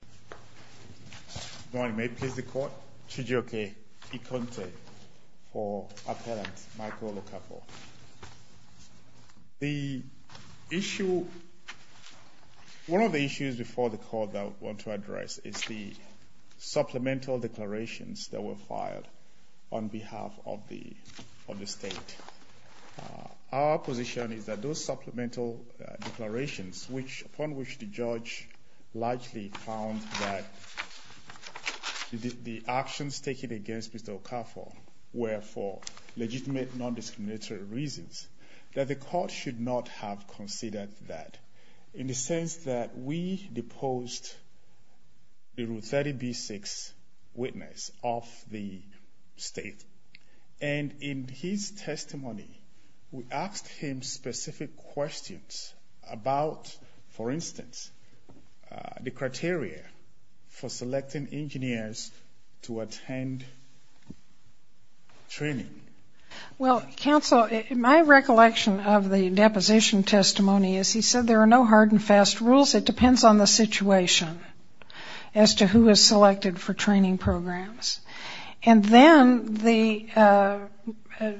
Good morning, may it please the Court. Chidjoke Ikonte for Appellant Michael Okafor. The issue, one of the issues before the Court that I want to address is the supplemental declarations that were filed on behalf of the State. Our position is that those supplemental declarations, upon which the Judge largely found that the actions taken against Mr. Okafor were for legitimate non-discriminatory reasons, that the Court should not have considered that, in the sense that we deposed the Rule 30b-6 witness of the State. And in his testimony, we asked him specific questions about, for instance, the criteria for selecting engineers to attend training. Well, Counsel, my recollection of the deposition testimony is he said there are no hard and fast rules, it depends on the situation as to who is selected for training programs. And then the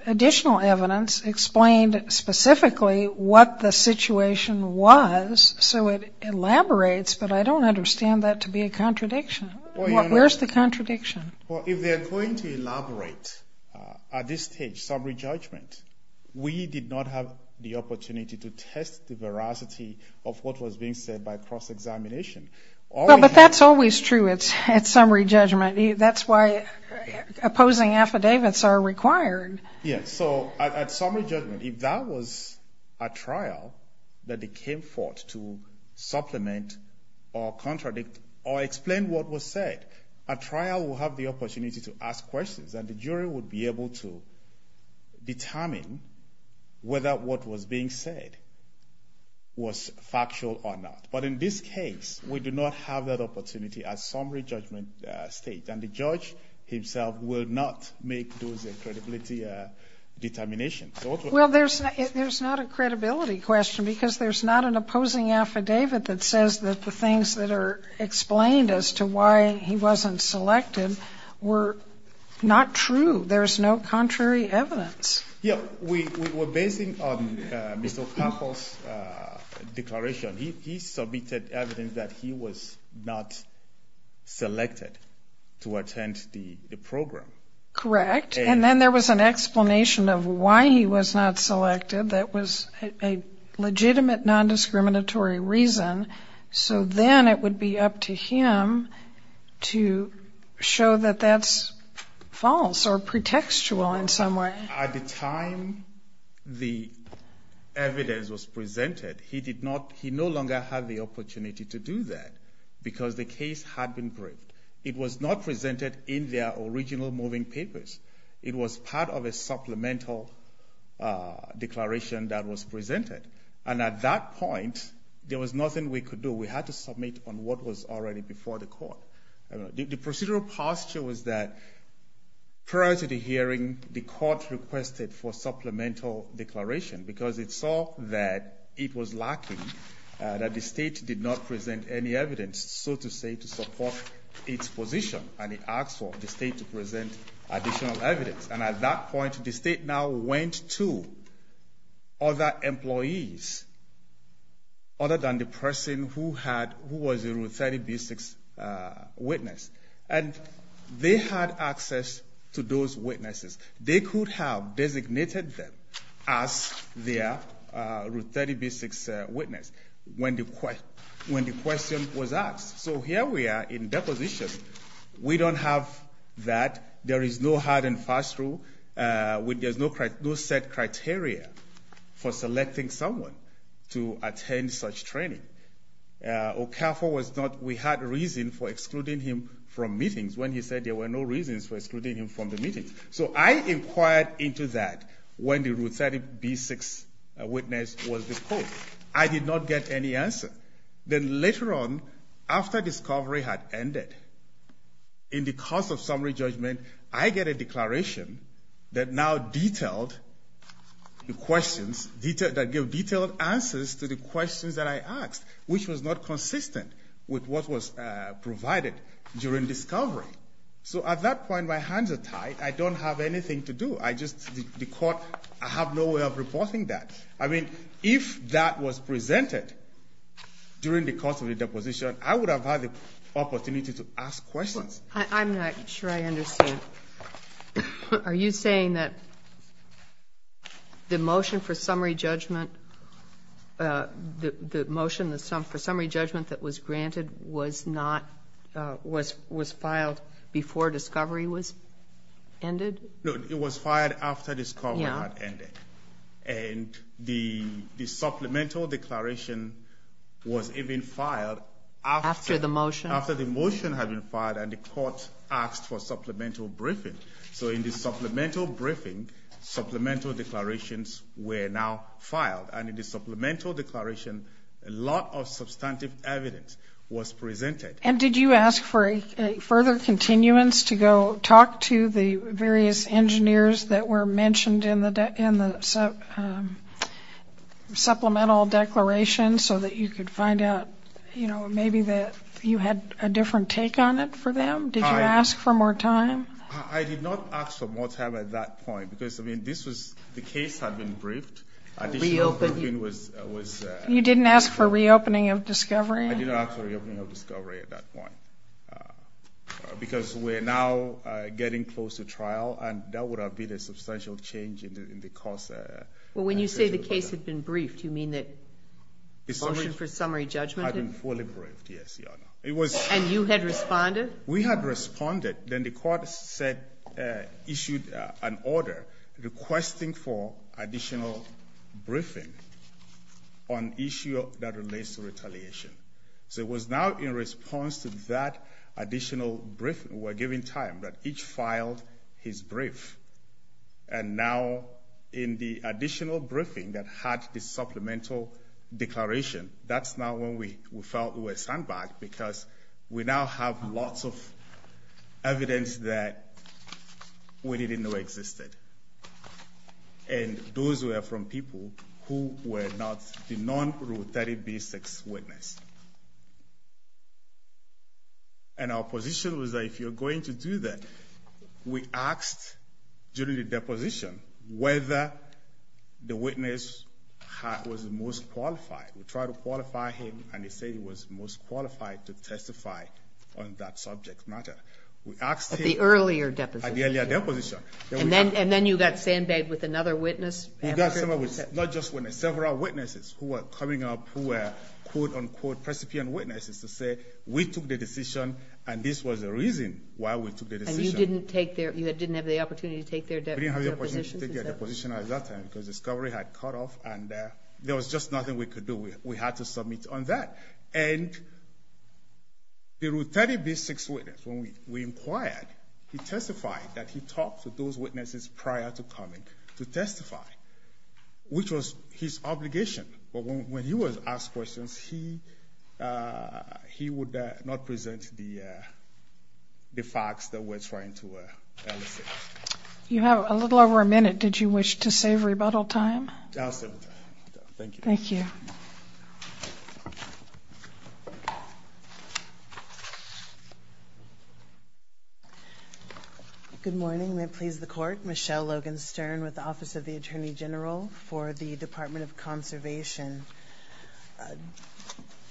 additional evidence explained specifically what the situation was, so it elaborates, but I don't understand that to be a contradiction. Where's the contradiction? Well, if they're going to elaborate at this stage, summary judgment, we did not have the opportunity to test the veracity of what was being said by cross-examination. Well, but that's always true at summary judgment. That's why opposing affidavits are required. Yes, so at summary judgment, if that was a trial that they came forth to supplement or contradict or explain what was said, a trial will have the opportunity to ask questions, and the jury would be able to determine whether what was being said was factual or not. But in this case, we do not have that opportunity at summary judgment stage, and the judge himself will not make those credibility determinations. Well, there's not a credibility question because there's not an opposing affidavit that says that the things that are explained as to why he wasn't selected were not true. There's no contrary evidence. Yeah, we were basing on Mr. Ocampo's declaration. He submitted evidence that he was not selected to attend the program. Correct, and then there was an explanation of why he was not selected that was a legitimate nondiscriminatory reason, so then it would be up to him to show that that's false or pretextual in some way. At the time the evidence was presented, he no longer had the opportunity to do that because the case had been briefed. It was not presented in their original moving papers. It was part of a supplemental declaration that was presented, and at that point, there was nothing we could do. We had to submit on what was already before the court. The procedural posture was that prior to the hearing, the court requested for supplemental declaration because it saw that it was lacking, that the state did not present any evidence, so to say, to support its position, and it asked for the state to present additional evidence. And at that point, the state now went to other employees other than the person who was a Route 30B6 witness, and they had access to those witnesses. They could have designated them as their Route 30B6 witness when the question was asked. So here we are in deposition. We don't have that. There is no hard and fast rule. There's no set criteria for selecting someone to attend such training. Okafo was not, we had reason for excluding him from meetings when he said there were no reasons for excluding him from the meetings. So I inquired into that when the Route 30B6 witness was disposed. I did not get any answer. Then later on, after discovery had ended, in the course of summary judgment, I get a declaration that now detailed the questions, that gave detailed answers to the questions that I asked, which was not consistent with what was provided during discovery. So at that point, my hands are tied. I don't have anything to do. I just, the court, I have no way of reporting that. I mean, if that was presented during the course of the deposition, I would have had the opportunity to ask questions. I'm not sure I understand. Are you saying that the motion for summary judgment, the motion for summary judgment that was granted was not, was filed before discovery was ended? No, it was filed after discovery had ended. And the supplemental declaration was even filed after the motion had been filed, and the court asked for supplemental briefing. So in the supplemental briefing, supplemental declarations were now filed. And in the supplemental declaration, a lot of substantive evidence was presented. And did you ask for a further continuance to go talk to the various engineers that were mentioned in the supplemental declaration, so that you could find out, you know, maybe that you had a different take on it for them? Did you ask for more time? I did not ask for more time at that point, because, I mean, this was, the case had been briefed. Reopening. You didn't ask for reopening of discovery? I did not ask for reopening of discovery at that point, because we're now getting close to trial, and that would have been a substantial change in the cost. Well, when you say the case had been briefed, you mean that the motion for summary judgment had been fully briefed? Had been fully briefed, yes, Your Honor. And you had responded? We had responded. Then the court said, issued an order requesting for additional briefing on issue that relates to retaliation. So it was now in response to that additional briefing, we were given time, that each filed his brief. And now, in the additional briefing that had the supplemental declaration, that's now when we felt we were sandbagged, because we now have lots of evidence that we didn't know existed. And those were from people who were not the non-Ru30B6 witness. And our position was that if you're going to do that, we asked during the deposition whether the witness was the most qualified. We tried to qualify him, and he said he was most qualified to testify on that subject matter. At the earlier deposition? At the earlier deposition. And then you got sandbagged with another witness? We got several witnesses who were coming up who were, quote, unquote, precipient witnesses to say, we took the decision, and this was the reason why we took the decision. And you didn't have the opportunity to take their deposition? We didn't have the opportunity to take their deposition at that time, because discovery had cut off, and there was just nothing we could do. We had to submit on that. And the Ru30B6 witness, when we inquired, he testified that he talked to those witnesses prior to coming to testify, which was his obligation. But when he was asked questions, he would not present the facts that we're trying to elicit. You have a little over a minute. Did you wish to save rebuttal time? I'll save the time. Thank you. Thank you. Good morning. May it please the Court. Michelle Logan Stern with the Office of the Attorney General for the Department of Conservation.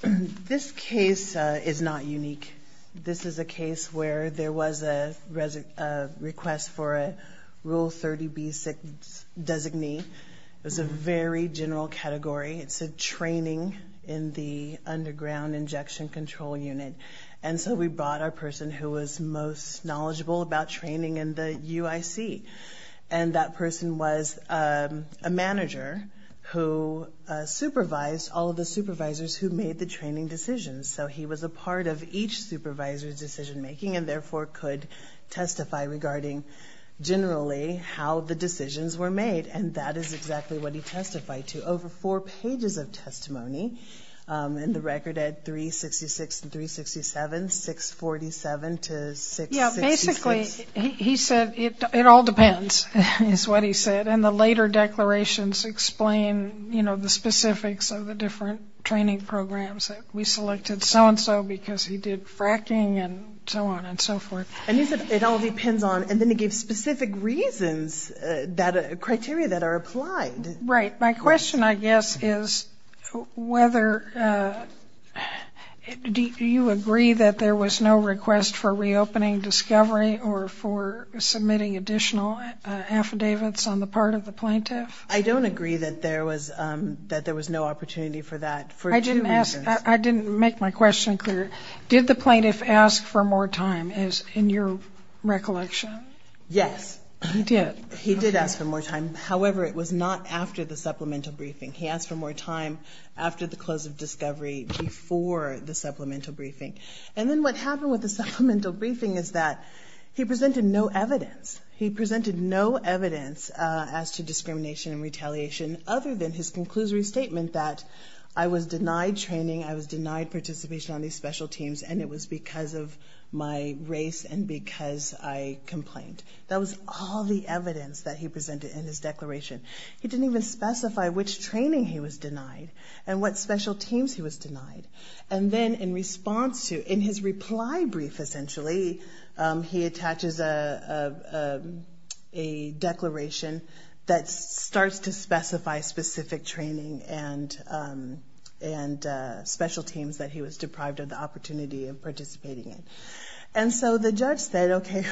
This case is not unique. This is a case where there was a request for a Ru30B6 designee. It was a very general category. It said training in the underground injection control unit. And so we brought our person who was most knowledgeable about training in the UIC. And that person was a manager who supervised all of the supervisors who made the training decisions. So he was a part of each supervisor's decision-making and therefore could testify regarding generally how the decisions were made. And that is exactly what he testified to. Over four pages of testimony in the record at 366 and 367, 647 to 666. Yeah, basically he said it all depends is what he said. And the later declarations explain, you know, the specifics of the different training programs. We selected so-and-so because he did fracking and so on and so forth. And he said it all depends on, and then he gave specific reasons, criteria that are applied. Right. My question, I guess, is whether you agree that there was no request for reopening discovery or for submitting additional affidavits on the part of the plaintiff. I don't agree that there was no opportunity for that for two reasons. I didn't make my question clear. Did the plaintiff ask for more time, in your recollection? Yes. He did. He did ask for more time. However, it was not after the supplemental briefing. He asked for more time after the close of discovery before the supplemental briefing. And then what happened with the supplemental briefing is that he presented no evidence. He presented no evidence as to discrimination and retaliation other than his conclusory statement that I was denied training, I was denied participation on these special teams, and it was because of my race and because I complained. That was all the evidence that he presented in his declaration. He didn't even specify which training he was denied and what special teams he was denied. And then in response to, in his reply brief, essentially, he attaches a declaration that starts to specify specific training and special teams that he was deprived of the opportunity of participating in. And so the judge said, okay,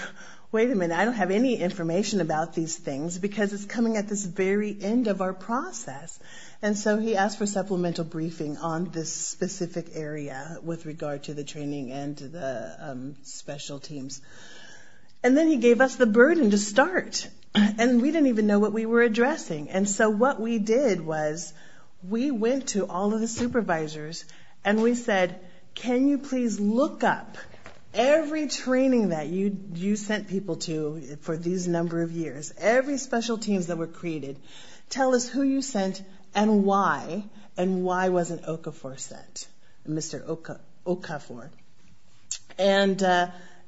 wait a minute, I don't have any information about these things because it's coming at this very end of our process. And so he asked for supplemental briefing on this specific area with regard to the training and the special teams. And then he gave us the burden to start. And we didn't even know what we were addressing. And so what we did was we went to all of the supervisors and we said, can you please look up every training that you sent people to for these number of years, every special teams that were created, tell us who you sent and why, and why wasn't Okafor sent, Mr. Okafor.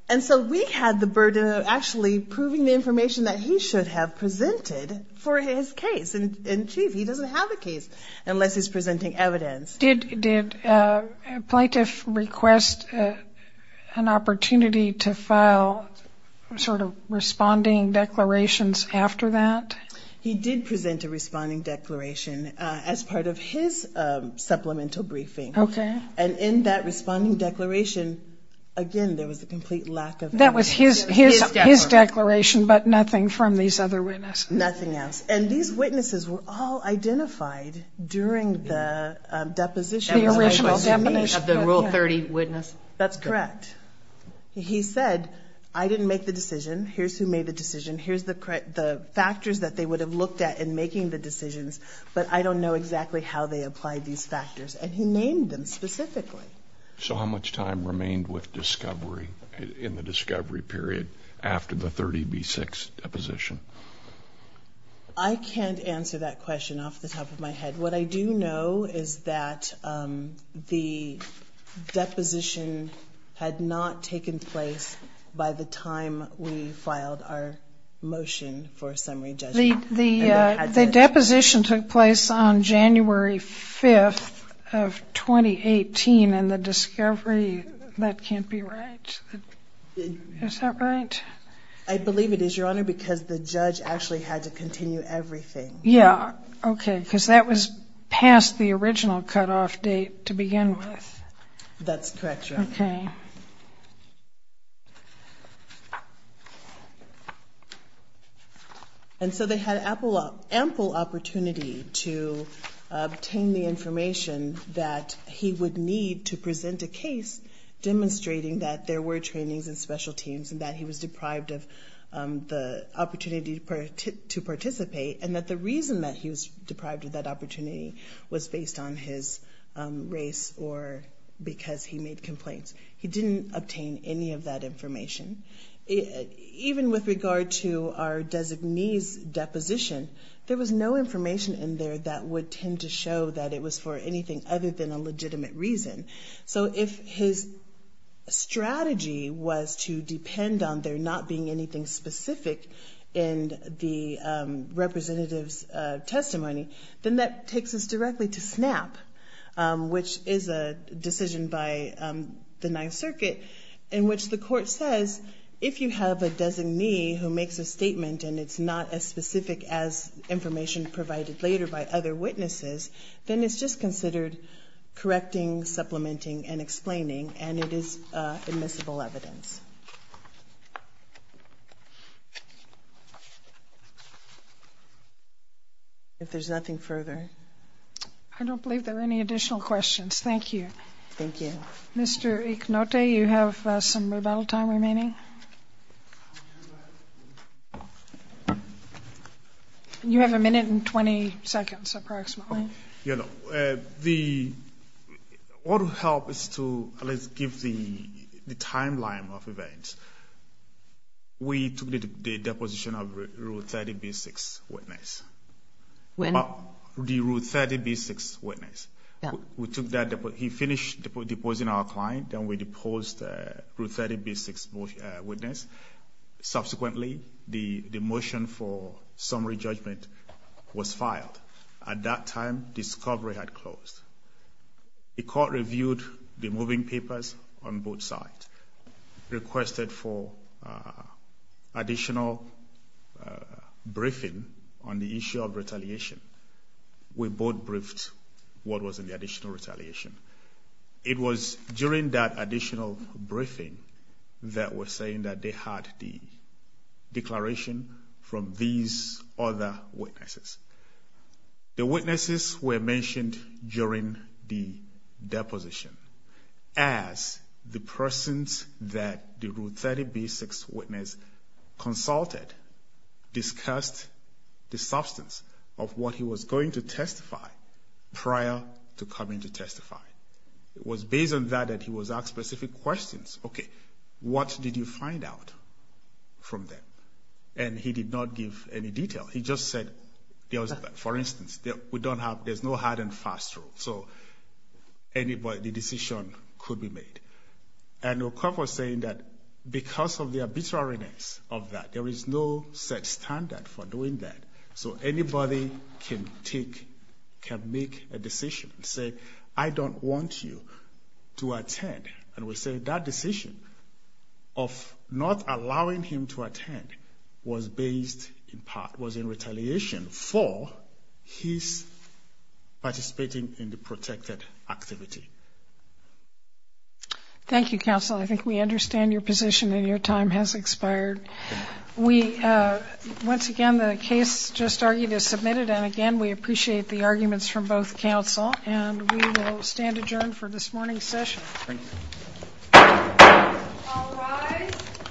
And so we had the burden of actually proving the information that he should have presented for his case. And, gee, he doesn't have a case unless he's presenting evidence. Did a plaintiff request an opportunity to file sort of responding declarations after that? He did present a responding declaration as part of his supplemental briefing. And in that responding declaration, again, there was a complete lack of evidence. That was his declaration but nothing from these other witnesses. Nothing else. Yes, and these witnesses were all identified during the deposition. The original definition of the Rule 30 witness. That's correct. He said, I didn't make the decision, here's who made the decision, here's the factors that they would have looked at in making the decisions, but I don't know exactly how they applied these factors. And he named them specifically. So how much time remained with discovery in the discovery period after the 30B6 deposition? I can't answer that question off the top of my head. What I do know is that the deposition had not taken place by the time we filed our motion for summary judgment. The deposition took place on January 5th of 2018 and the discovery, that can't be right. Is that right? I believe it is, Your Honor, because the judge actually had to continue everything. Yeah, okay, because that was past the original cutoff date to begin with. That's correct, Your Honor. Okay. And so they had ample opportunity to obtain the information that he would need to present a case demonstrating that there were trainings and special teams and that he was deprived of the opportunity to participate and that the reason that he was deprived of that opportunity was based on his race or because he made complaints. He didn't obtain any of that information. Even with regard to our designee's deposition, there was no information in there that would tend to show that it was for anything other than a legitimate reason. So if his strategy was to depend on there not being anything specific in the representative's testimony, then that takes us directly to SNAP, which is a decision by the Ninth Circuit in which the court says, if you have a designee who makes a statement and it's not as specific as information provided later by other witnesses, then it's just considered correcting, supplementing, and explaining, and it is admissible evidence. If there's nothing further. I don't believe there are any additional questions. Thank you. Thank you. Mr. Iknote, you have some rebuttal time remaining. You have a minute and 20 seconds approximately. What would help is to at least give the timeline of events. We took the deposition of Rule 30B-6 witness. When? The Rule 30B-6 witness. We took that deposition. He finished deposing our client, then we deposed the Rule 30B-6 witness. Subsequently, the motion for summary judgment was filed. At that time, discovery had closed. The court reviewed the moving papers on both sides, requested for additional briefing on the issue of retaliation. We both briefed what was in the additional retaliation. It was during that additional briefing that we're saying that they had the declaration from these other witnesses. The witnesses were mentioned during the deposition as the persons that the Rule 30B-6 witness consulted discussed the substance of what he was going to testify prior to coming to testify. It was based on that that he was asked specific questions. Okay, what did you find out from them? And he did not give any detail. He just said, for instance, there's no hard and fast rule, so the decision could be made. And the court was saying that because of the arbitrariness of that, there is no set standard for doing that, so anybody can make a decision and say, I don't want you to attend. And we say that decision of not allowing him to attend was based in part, was in retaliation for his participating in the protected activity. Thank you, counsel. I think we understand your position and your time has expired. Once again, the case just argued is submitted, and again, we appreciate the arguments from both counsel, and we will stand adjourned for this morning's session. Thank you. All rise.